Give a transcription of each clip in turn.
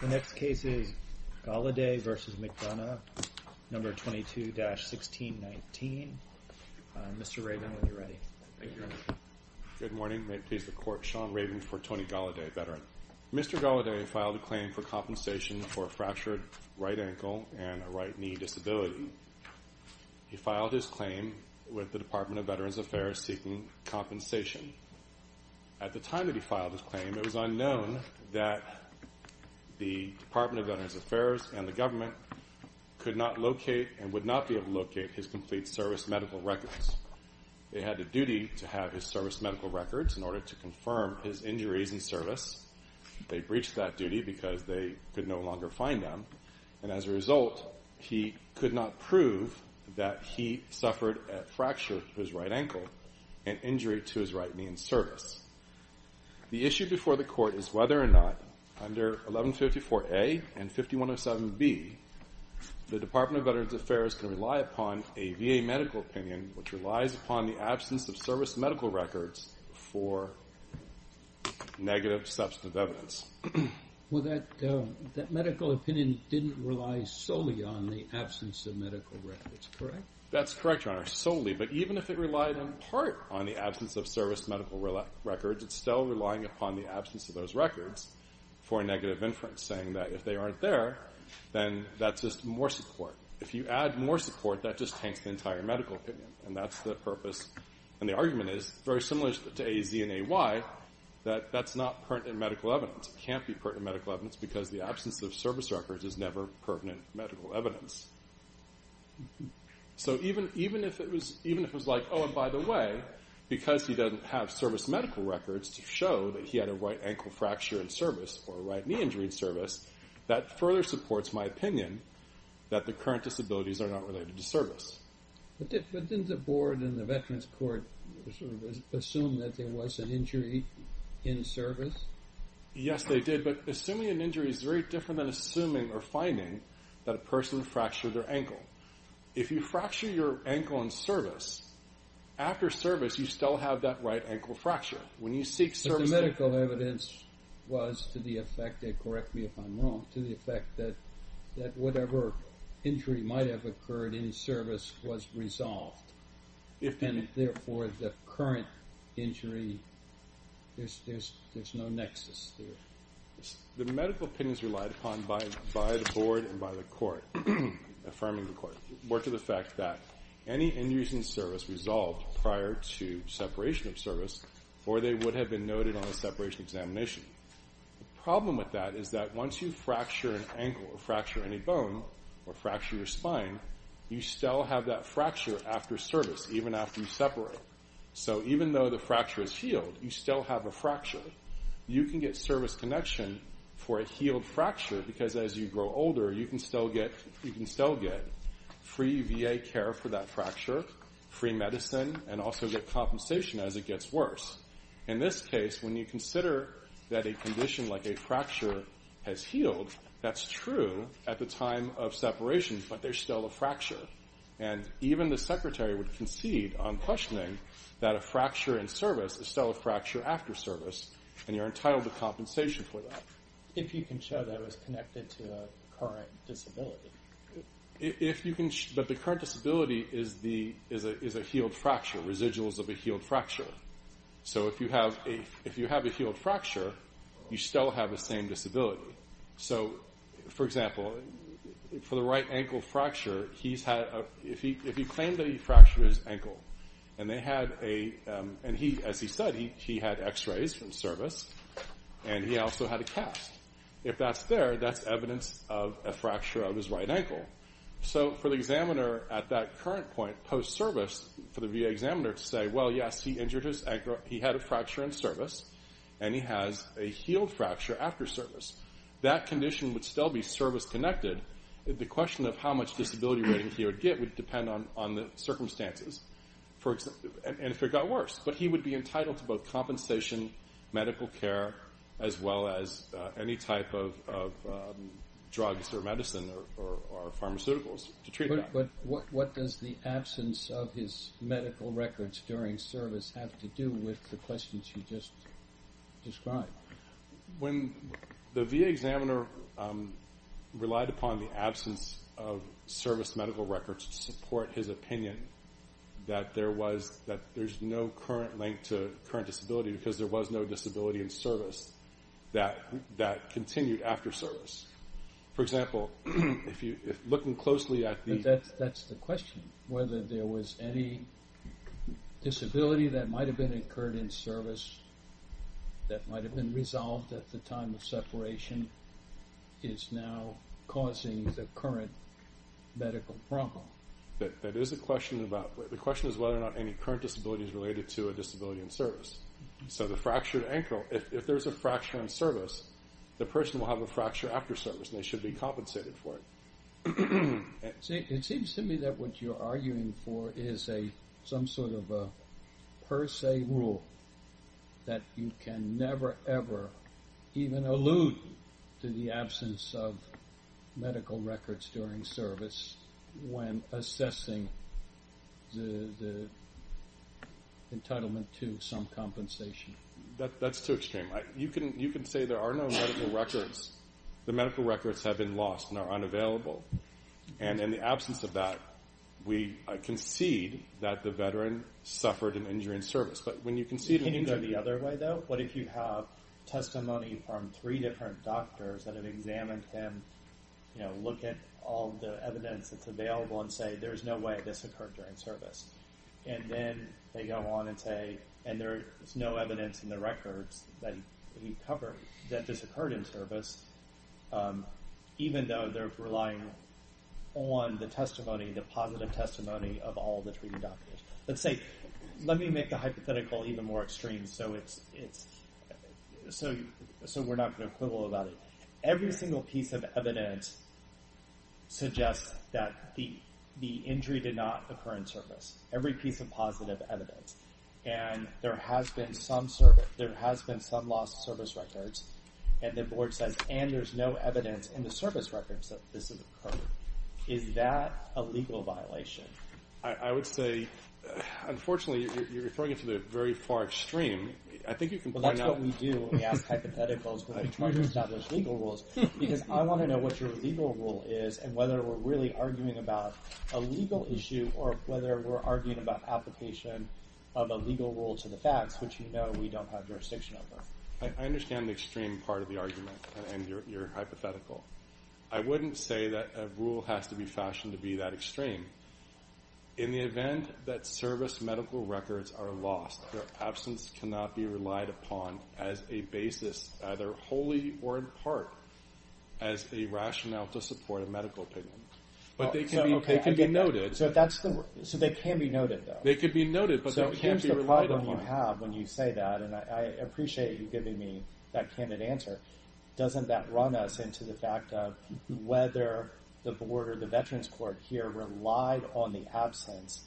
The next case is Golliday v. McDonough, No. 22-1619. Mr. Raven, when you're ready. Good morning. May it please the Court, Sean Raven for Tony Golliday, veteran. Mr. Golliday filed a claim for compensation for a fractured right ankle and a right knee disability. He filed his claim with the Department of Veterans Affairs seeking compensation. At the time that he filed his claim, it was unknown that the Department of Veterans Affairs and the government could not locate and would not be able to locate his complete service medical records. They had a duty to have his service medical records in order to confirm his injuries in service. They breached that duty because they could no longer find them, and as a result, he could not prove that he suffered a fracture to his right ankle and injury to his right knee in service. The issue before the Court is whether or not under 1154A and 5107B, the Department of Veterans Affairs can rely upon a VA medical opinion which relies upon the absence of service medical records for negative substantive evidence. Well, that medical opinion didn't rely solely on the absence of medical records, correct? That's correct, Your Honor, solely, but even if it relied in part on the absence of service medical records, it's still relying upon the absence of those records for a negative inference, saying that if they aren't there, then that's just more support. If you add more support, that just taints the entire medical opinion, and that's the purpose. And the argument is very similar to A-Z and A-Y, that that's not pertinent medical evidence. It can't be pertinent medical evidence because the absence of service records is never pertinent medical evidence. So even if it was like, oh, and by the way, because he doesn't have service medical records to show that he had a right ankle fracture in service or a right knee injury in service, that further supports my opinion that the current disabilities are not related to service. But didn't the Board and the Veterans Court assume that there was an injury in service? Yes, they did, but assuming an injury is very different than assuming or finding that a person fractured their ankle. If you fracture your ankle in service, after service you still have that right ankle fracture. But the medical evidence was to the effect, and correct me if I'm wrong, to the effect that whatever injury might have occurred in service was resolved, and therefore the current injury, there's no nexus to it. The medical opinions relied upon by the Board and by the Court, affirming the Court, were to the effect that any injuries in service resolved prior to separation of service or they would have been noted on a separation examination. The problem with that is that once you fracture an ankle or fracture any bone or fracture your spine, you still have that fracture after service, even after you separate. So even though the fracture is healed, you still have a fracture. You can get service connection for a healed fracture because as you grow older, you can still get free VA care for that fracture, free medicine, and also get compensation as it gets worse. In this case, when you consider that a condition like a fracture has healed, that's true at the time of separation, but there's still a fracture. And even the Secretary would concede on questioning that a fracture in service is still a fracture after service, and you're entitled to compensation for that. If you can show that it was connected to a current disability. But the current disability is a healed fracture, residuals of a healed fracture. So if you have a healed fracture, you still have the same disability. So, for example, for the right ankle fracture, if he claimed that he fractured his ankle, and as he said, he had x-rays from service, and he also had a cast. If that's there, that's evidence of a fracture of his right ankle. So for the examiner at that current point, post-service, for the VA examiner to say, well, yes, he injured his ankle, he had a fracture in service, and he has a healed fracture after service. That condition would still be service-connected. The question of how much disability rating he would get would depend on the circumstances. And if it got worse. But he would be entitled to both compensation, medical care, as well as any type of drugs or medicine or pharmaceuticals to treat that. But what does the absence of his medical records during service have to do with the questions you just described? When the VA examiner relied upon the absence of service medical records to support his opinion that there's no current link to current disability because there was no disability in service, that continued after service. For example, looking closely at the... But that's the question, whether there was any disability that might have been incurred in service that might have been resolved at the time of separation is now causing the current medical problem. That is a question about... The question is whether or not any current disability is related to a disability in service. So the fractured ankle... If there's a fracture in service, the person will have a fracture after service, and they should be compensated for it. It seems to me that what you're arguing for is some sort of a per se rule that you can never, ever even allude to the absence of medical records during service when assessing the entitlement to some compensation. That's too extreme. You can say there are no medical records. The medical records have been lost and are unavailable. And in the absence of that, we concede that the veteran suffered an injury in service. But when you concede... Can you go the other way, though? What if you have testimony from three different doctors that have examined him, look at all the evidence that's available, and say, there's no way this occurred during service. And then they go on and say, and there's no evidence in the records that we've covered that this occurred in service, even though they're relying on the testimony, the positive testimony of all the three doctors. Let's say... Let me make the hypothetical even more extreme so we're not going to quibble about it. Every single piece of evidence suggests that the injury did not occur in service. Every piece of positive evidence. And there has been some loss of service records. And the Board says, and there's no evidence in the service records that this occurred. Is that a legal violation? I would say, unfortunately, you're referring to the very far extreme. I think you can point out... Because I want to know what your legal rule is and whether we're really arguing about a legal issue or whether we're arguing about application of a legal rule to the facts, which you know we don't have jurisdiction over. I understand the extreme part of the argument and your hypothetical. I wouldn't say that a rule has to be fashioned to be that extreme. In the event that service medical records are lost, their absence cannot be relied upon as a basis, either wholly or in part, as a rationale to support a medical opinion. But they can be noted. So they can be noted, though? They can be noted, but they can't be relied upon. So here's the problem you have when you say that, and I appreciate you giving me that candid answer. Doesn't that run us into the fact of whether the Board or the Veterans Court here relied on the absence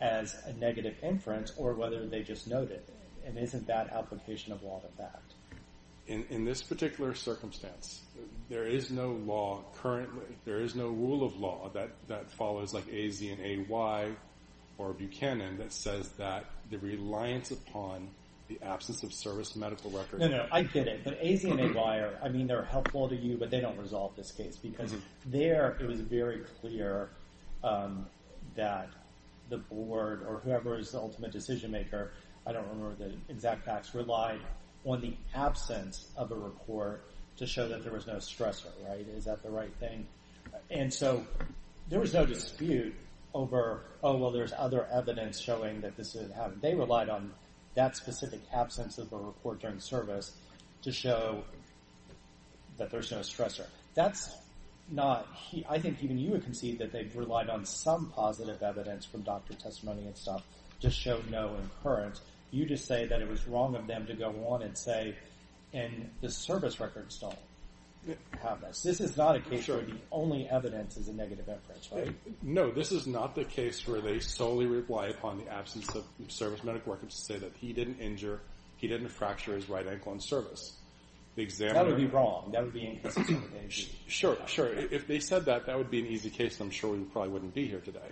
as a negative inference or whether they just noted it? And isn't that application of law the fact? In this particular circumstance, there is no law currently, there is no rule of law that follows like AZ&AY or Buchanan that says that the reliance upon the absence of service medical records... No, no, I get it. But AZ&AY, I mean they're helpful to you, but they don't resolve this case because there it was very clear that the Board or whoever is the ultimate decision maker, I don't remember the exact facts, relied on the absence of a report to show that there was no stressor. Is that the right thing? And so there was no dispute over, oh, well, there's other evidence showing that this didn't happen. They relied on that specific absence of a report during service to show that there's no stressor. That's not... I think even you would concede that they relied on some positive evidence from doctor testimony and stuff to show no occurrence. You just say that it was wrong of them to go on and say, and the service records don't have this. This is not a case where the only evidence is a negative evidence, right? No, this is not the case where they solely rely upon the absence of service medical records to say that he didn't injure, he didn't fracture his right ankle in service. That would be wrong. Sure, sure, if they said that, that would be an easy case and I'm sure we probably wouldn't be here today.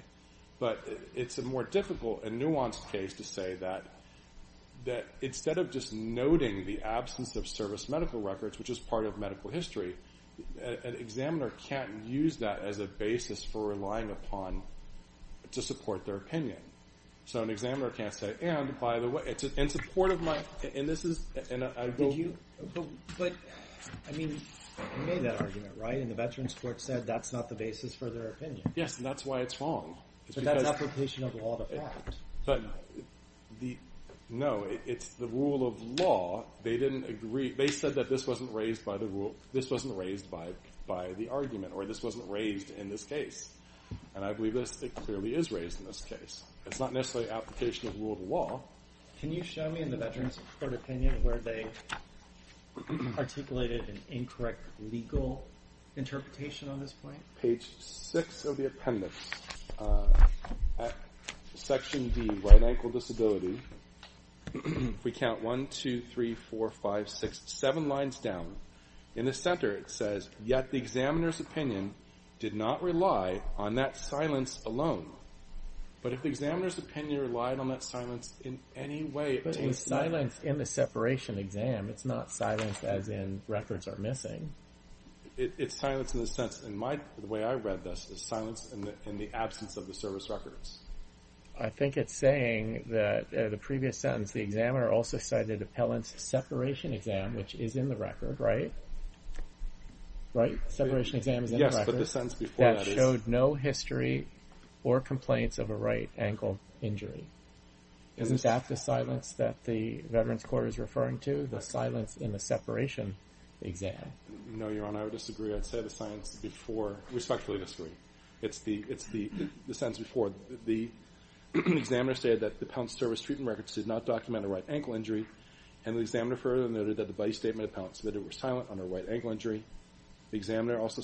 But it's a more difficult and nuanced case to say that instead of just noting the absence of service medical records, which is part of medical history, an examiner can't use that as a basis for relying upon to support their opinion. So an examiner can't say, and by the way, in support of my... And this is... But, I mean, you made that argument, right? And the Veterans Court said that's not the basis for their opinion. Yes, and that's why it's wrong. But that's application of law to fact. No, it's the rule of law. They didn't agree. They said that this wasn't raised by the argument or this wasn't raised in this case. And I believe this clearly is raised in this case. It's not necessarily application of rule of law. Can you show me in the Veterans Court opinion where they articulated an incorrect legal interpretation on this point? Page 6 of the appendix. Section D, right ankle disability. We count 1, 2, 3, 4, 5, 6, 7 lines down. In the center it says, yet the examiner's opinion did not rely on that silence alone. But if the examiner's opinion relied on that silence in any way... But it was silenced in the separation exam. It's not silenced as in records are missing. It's silenced in the sense, in my way I read this, it's silenced in the absence of the service records. I think it's saying that the previous sentence, the examiner also cited appellant's separation exam, which is in the record, right? Right? Separation exam is in the record. Yes, but the sentence before that is... That showed no history or complaints of a right ankle injury. Isn't that the silence that the Veterans Court is referring to, the silence in the separation exam? No, Your Honor, I would disagree. I'd say the silence before, respectfully disagree. It's the sentence before. The examiner stated that the appellant's service treatment records did not document a right ankle injury, and the examiner further noted that the body statement of the appellant submitted was silent under right ankle injury. The examiner also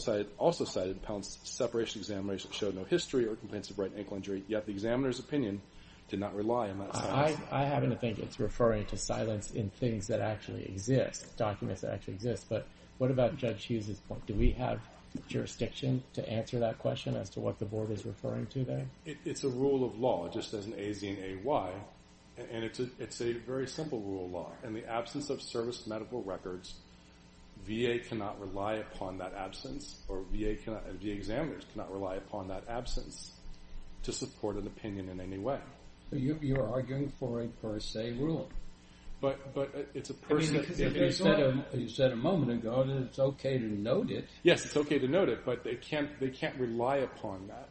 cited appellant's separation examination showed no history or complaints of right ankle injury, yet the examiner's opinion did not rely on that silence. I happen to think it's referring to silence in things that actually exist, documents that actually exist. But what about Judge Hughes' point? Do we have jurisdiction to answer that question as to what the Board is referring to there? It's a rule of law, just as an A-Z and A-Y, and it's a very simple rule of law. In the absence of service medical records, VA cannot rely upon that absence, or VA examiners cannot rely upon that absence to support an opinion in any way. You're arguing for a per se rule. You said a moment ago that it's okay to note it. Yes, it's okay to note it, but they can't rely upon that.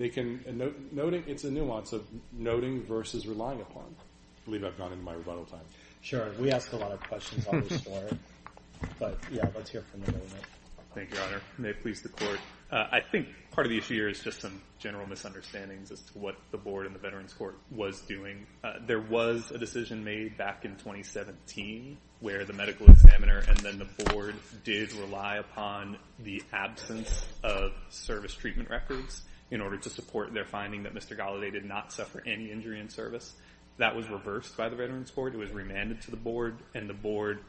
It's a nuance of noting versus relying upon. I believe I've gone into my rebuttal time. Sure, and we ask a lot of questions on this story. But, yeah, let's hear from you. Thank you, Your Honor. May it please the Court. I think part of the issue here is just some general misunderstandings as to what the Board and the Veterans Court was doing. There was a decision made back in 2017 where the medical examiner and then the Board did rely upon the absence of service treatment records in order to support their finding that Mr. Galladay did not suffer any injury in service. That was reversed by the Veterans Court. It was remanded to the Board, and the Board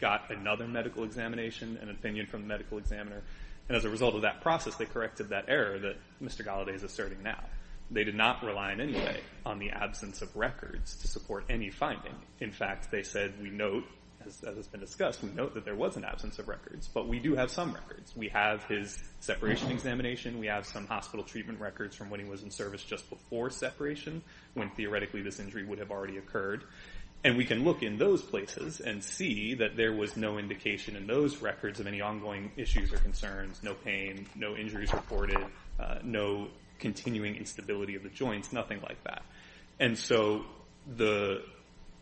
got another medical examination and an opinion from the medical examiner. And as a result of that process, they corrected that error that Mr. Galladay is asserting now. They did not rely in any way on the absence of records to support any finding. In fact, they said we note, as has been discussed, we note that there was an absence of records. But we do have some records. We have his separation examination. We have some hospital treatment records from when he was in service just before separation, when theoretically this injury would have already occurred. And we can look in those places and see that there was no indication in those records of any ongoing issues or concerns, no pain, no injuries reported, no continuing instability of the joints, nothing like that. And so the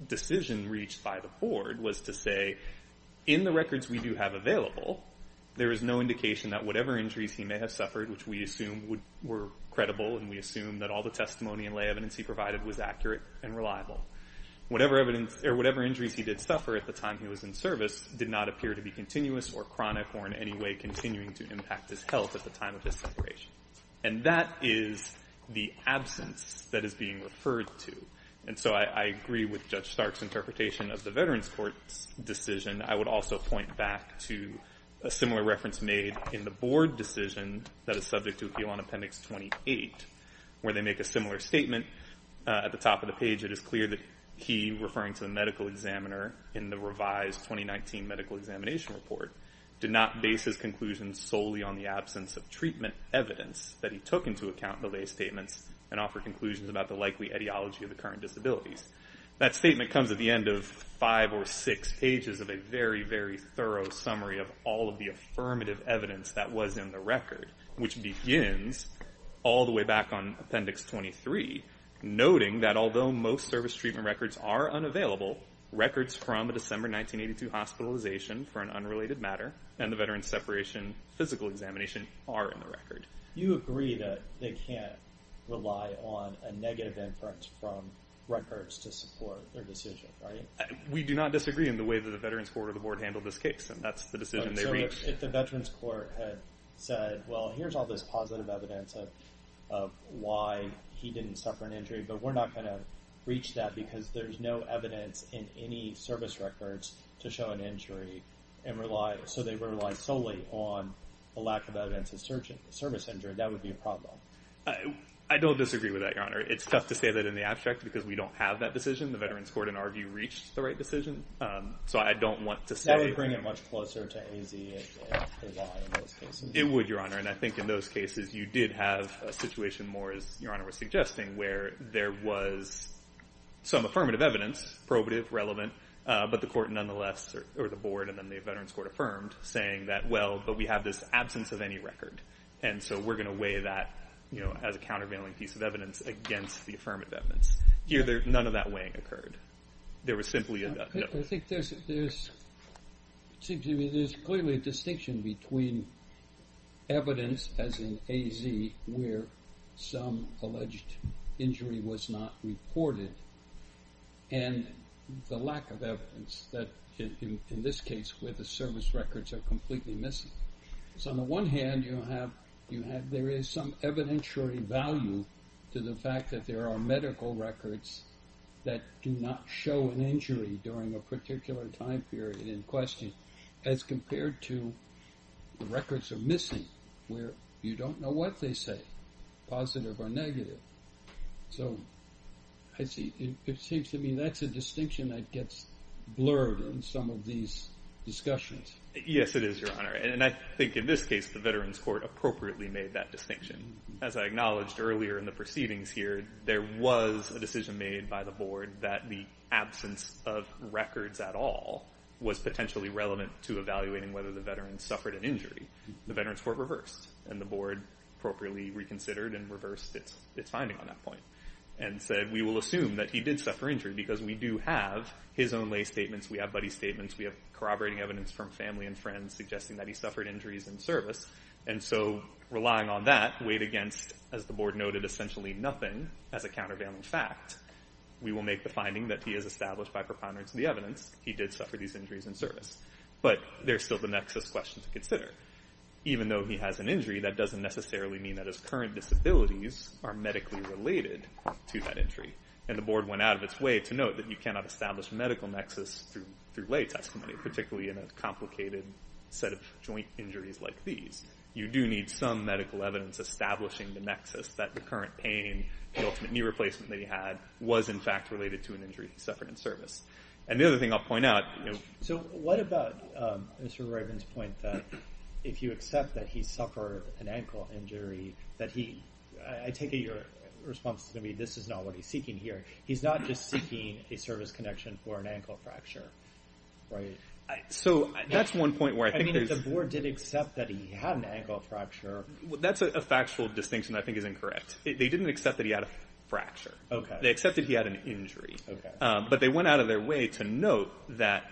decision reached by the Board was to say, in the records we do have available, there is no indication that whatever injuries he may have suffered, which we assume were credible and we assume that all the testimony and lay evidence he provided was accurate and reliable. Whatever injuries he did suffer at the time he was in service did not appear to be continuous or chronic or in any way continuing to impact his health at the time of his separation. And that is the absence that is being referred to. And so I agree with Judge Stark's interpretation of the Veterans Court's decision. I would also point back to a similar reference made in the Board decision that is subject to Appeal on Appendix 28 where they make a similar statement. At the top of the page, it is clear that he, referring to the medical examiner in the revised 2019 medical examination report, did not base his conclusions solely on the absence of treatment evidence that he took into account in the lay statements and offered conclusions about the likely etiology of the current disabilities. That statement comes at the end of five or six pages of a very, very thorough summary of all of the affirmative evidence that was in the record, which begins all the way back on Appendix 23, noting that although most service treatment records are unavailable, records from a December 1982 hospitalization for an unrelated matter and the Veterans separation physical examination are in the record. You agree that they can't rely on a negative inference from records to support their decision, right? We do not disagree in the way that the Veterans Court or the Board handled this case, and that's the decision they reached. So if the Veterans Court had said, well, here's all this positive evidence of why he didn't suffer an injury, but we're not going to reach that because there's no evidence in any service records to show an injury and rely, so they rely solely on the lack of evidence of service injury, that would be a problem. I don't disagree with that, Your Honor. It's tough to say that in the abstract because we don't have that decision. The Veterans Court, in our view, reached the right decision. So I don't want to say- That would bring it much closer to AZ in those cases. It would, Your Honor, and I think in those cases you did have a situation more, as Your Honor was suggesting, where there was some affirmative evidence, probative, relevant, but the Court, nonetheless, or the Board and then the Veterans Court affirmed, saying that, well, but we have this absence of any record, and so we're going to weigh that as a countervailing piece of evidence against the affirmative evidence. Here, none of that weighing occurred. There was simply a- I think there's clearly a distinction between evidence as in AZ where some alleged injury was not reported and the lack of evidence that, in this case, where the service records are completely missing. So on the one hand, you have- there is some evidentiary value to the fact that there are medical records that do not show an injury during a particular time period in question as compared to the records are missing, where you don't know what they say, positive or negative. So I see. It seems to me that's a distinction that gets blurred in some of these discussions. Yes, it is, Your Honor. And I think in this case, the Veterans Court appropriately made that distinction. As I acknowledged earlier in the proceedings here, there was a decision made by the Board that the absence of records at all was potentially relevant to evaluating whether the Veterans suffered an injury. The Veterans Court reversed, and the Board appropriately reconsidered and reversed its finding on that point and said we will assume that he did suffer injury because we do have his own lay statements. We have Buddy's statements. We have corroborating evidence from family and friends suggesting that he suffered injuries in service. And so relying on that, weighed against, as the Board noted, essentially nothing as a countervailing fact. We will make the finding that he is established by preponderance of the evidence he did suffer these injuries in service. But there's still the nexus question to consider. Even though he has an injury, that doesn't necessarily mean that his current disabilities are medically related to that injury. And the Board went out of its way to note that you cannot establish a medical nexus through lay testimony, particularly in a complicated set of joint injuries like these. You do need some medical evidence establishing the nexus that the current pain, the ultimate knee replacement that he had, was in fact related to an injury he suffered in service. And the other thing I'll point out... So what about Mr. Ryburn's point that if you accept that he suffered an ankle injury, that he... I take it your response is going to be, this is not what he's seeking here. He's not just seeking a service connection for an ankle fracture, right? So that's one point where I think there's... I mean, if the Board did accept that he had an ankle fracture... That's a factual distinction that I think is incorrect. They didn't accept that he had a fracture. Okay. They accepted he had an injury. Okay. But they went out of their way to note that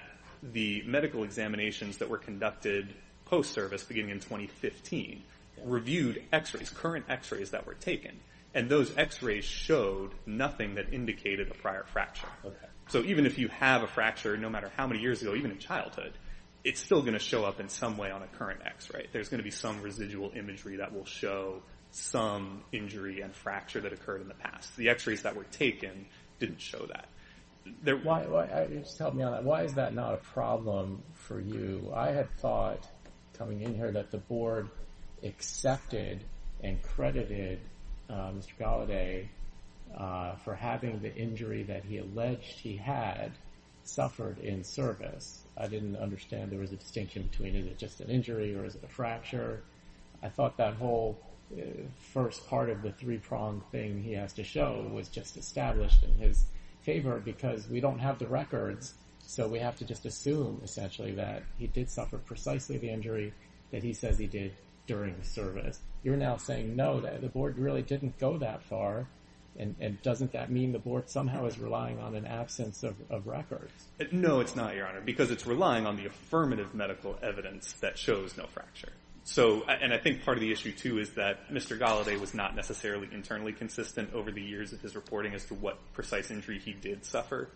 the medical examinations that were conducted post-service, beginning in 2015, reviewed X-rays, current X-rays that were taken, and those X-rays showed nothing that indicated a prior fracture. Okay. So even if you have a fracture, no matter how many years ago, even in childhood, it's still going to show up in some way on a current X-ray. There's going to be some residual imagery that will show some injury and fracture that occurred in the past. The X-rays that were taken didn't show that. Just help me on that. Why is that not a problem for you? I had thought, coming in here, that the Board accepted and credited Mr. Galladay for having the injury that he alleged he had suffered in service. I didn't understand there was a distinction between is it just an injury or is it a fracture? I thought that whole first part of the three-prong thing he has to show was just established in his favor because we don't have the records, so we have to just assume, essentially, that he did suffer precisely the injury that he says he did during service. You're now saying, no, the Board really didn't go that far, and doesn't that mean the Board somehow is relying on an absence of records? No, it's not, Your Honor, because it's relying on the affirmative medical evidence that shows no fracture. And I think part of the issue, too, is that Mr. Galladay was not necessarily internally consistent over the years of his reporting as to what precise injury he did suffer.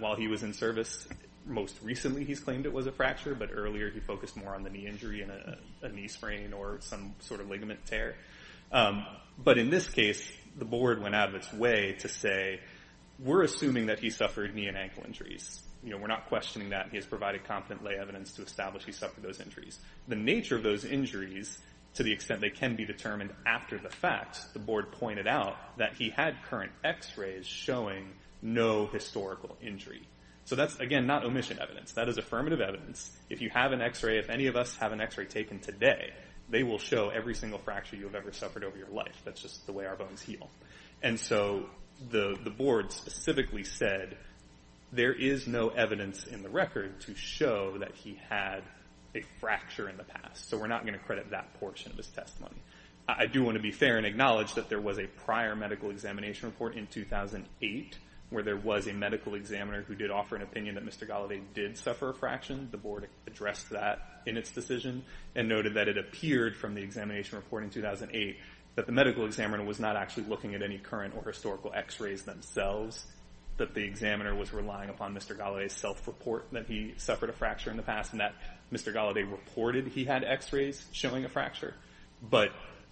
While he was in service, most recently he's claimed it was a fracture, but earlier he focused more on the knee injury and a knee sprain or some sort of ligament tear. But in this case, the Board went out of its way to say, we're assuming that he suffered knee and ankle injuries. We're not questioning that. He has provided competent lay evidence to establish he suffered those injuries. The nature of those injuries, to the extent they can be determined after the fact, the Board pointed out that he had current x-rays showing no historical injury. So that's, again, not omission evidence. That is affirmative evidence. If you have an x-ray, if any of us have an x-ray taken today, they will show every single fracture you have ever suffered over your life. That's just the way our bones heal. And so the Board specifically said there is no evidence in the record to show that he had a fracture in the past. So we're not going to credit that portion of his testimony. I do want to be fair and acknowledge that there was a prior medical examination report in 2008 where there was a medical examiner who did offer an opinion that Mr. Gallaudet did suffer a fraction. The Board addressed that in its decision and noted that it appeared from the examination report in 2008 that the medical examiner was not actually looking at any current or historical x-rays themselves, that the examiner was relying upon Mr. Gallaudet's self-report that he suffered a fracture in the past and that Mr. Gallaudet reported he had x-rays showing a fracture. But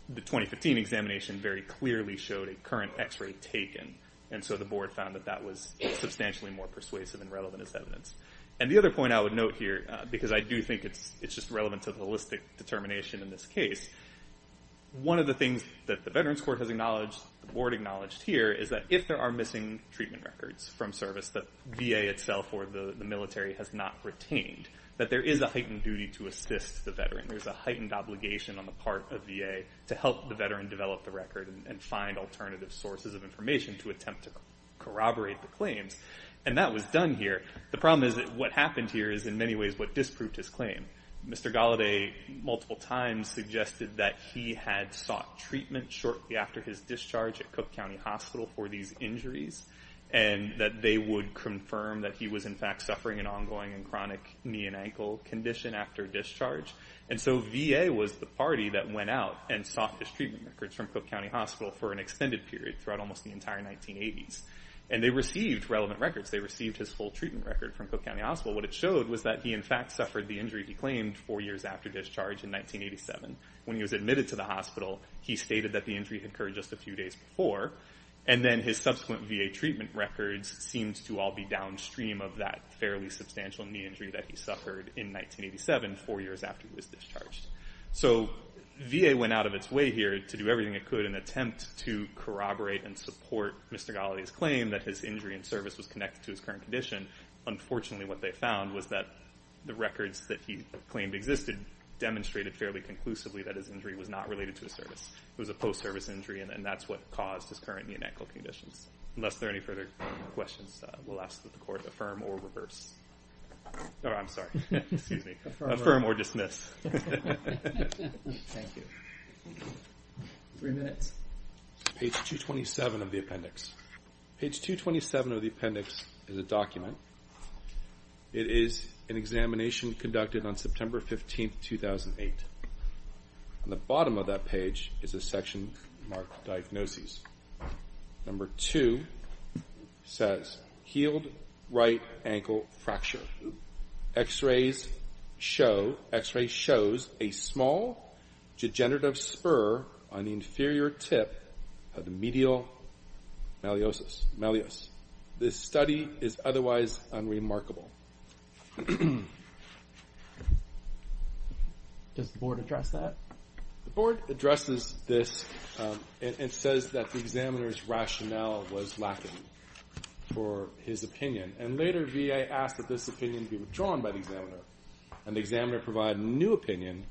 the 2015 examination very clearly showed a current x-ray taken, and so the Board found that that was substantially more persuasive and relevant as evidence. And the other point I would note here, because I do think it's just relevant to the holistic determination in this case, one of the things that the Veterans Court has acknowledged, the Board acknowledged here, is that if there are missing treatment records from service that VA itself or the military has not retained, that there is a heightened duty to assist the veteran. There's a heightened obligation on the part of VA to help the veteran develop the record and find alternative sources of information to attempt to corroborate the claims. And that was done here. The problem is that what happened here is in many ways what disproved his claim. Mr. Gallaudet multiple times suggested that he had sought treatment shortly after his discharge and that they would confirm that he was, in fact, undergoing a chronic knee and ankle condition after discharge. And so VA was the party that went out and sought his treatment records from Cook County Hospital for an extended period throughout almost the entire 1980s. And they received relevant records. They received his full treatment record from Cook County Hospital. What it showed was that he, in fact, suffered the injury he claimed four years after discharge in 1987. When he was admitted to the hospital, he stated that the injury had occurred just a few days before, and then his subsequent VA treatment records seemed to all be downstream of that fairly substantial knee injury that he suffered in 1987, four years after he was discharged. So VA went out of its way here to do everything it could in an attempt to corroborate and support Mr. Gallaudet's claim that his injury in service was connected to his current condition. Unfortunately, what they found was that the records that he claimed existed demonstrated fairly conclusively that his injury was not related to his service. It was a post-service injury, and that's what caused his current knee and ankle conditions. Unless there are any further questions, we'll ask that the Court affirm or reverse. Oh, I'm sorry. Excuse me. Affirm or dismiss. Thank you. Three minutes. Page 227 of the appendix. Page 227 of the appendix is a document. It is an examination conducted on September 15, 2008. On the bottom of that page is a section marked Diagnoses. Number two says healed right ankle fracture. X-rays show a small degenerative spur on the inferior tip of the medial malleus. This study is otherwise unremarkable. Does the Board address that? The Board addresses this and says that the examiner's rationale was lacking for his opinion, and later VA asked that this opinion be withdrawn by the examiner, and the examiner provide a new opinion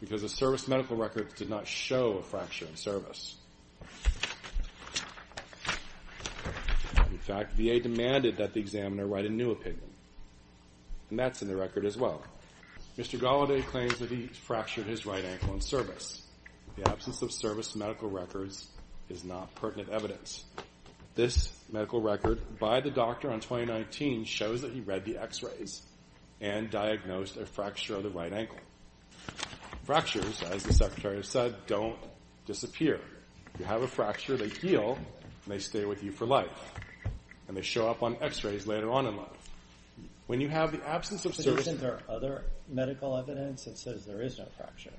because the service medical record did not show a fracture in service. In fact, VA demanded that the examiner write a new opinion, and that's in the record as well. Mr. Gallaudet claims that he fractured his right ankle in service. The absence of service medical records is not pertinent evidence. This medical record by the doctor on 2019 shows that he read the X-rays and diagnosed a fracture of the right ankle. Fractures, as the Secretary said, don't disappear. You have a fracture, they heal, and they stay with you for life, and they show up on X-rays later on in life. When you have the absence of service... Isn't there other medical evidence that says there is no fracture?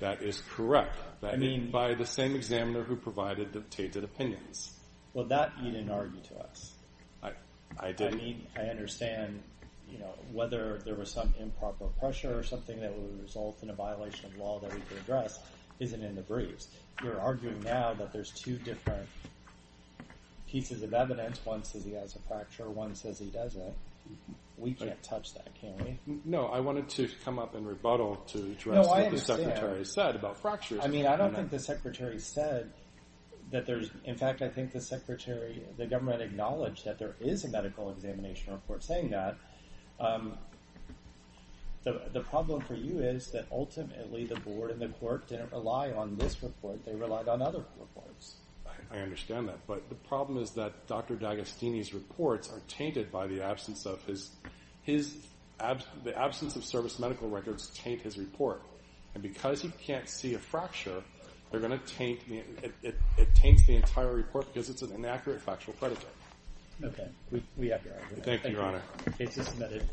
That is correct. By the same examiner who provided the tainted opinions. Well, that you didn't argue to us. I didn't. I mean, I understand whether there was some improper pressure or something that would result in a violation of law that we could address isn't in the briefs. You're arguing now that there's two different pieces of evidence. One says he has a fracture, one says he doesn't. We can't touch that, can we? No, I wanted to come up in rebuttal to address what the Secretary said about fractures. I mean, I don't think the Secretary said that there's... In fact, I think the Secretary, the government, acknowledged that there is a medical examination report saying that. The problem for you is that ultimately the board and the court didn't rely on this report, they relied on other reports. I understand that. But the problem is that Dr. D'Agostini's reports are tainted by the absence of his... The absence of service medical records taint his report. And because he can't see a fracture, they're going to taint... It taints the entire report because it's an inaccurate factual predicate. Okay. We have your argument. Thank you, Your Honor.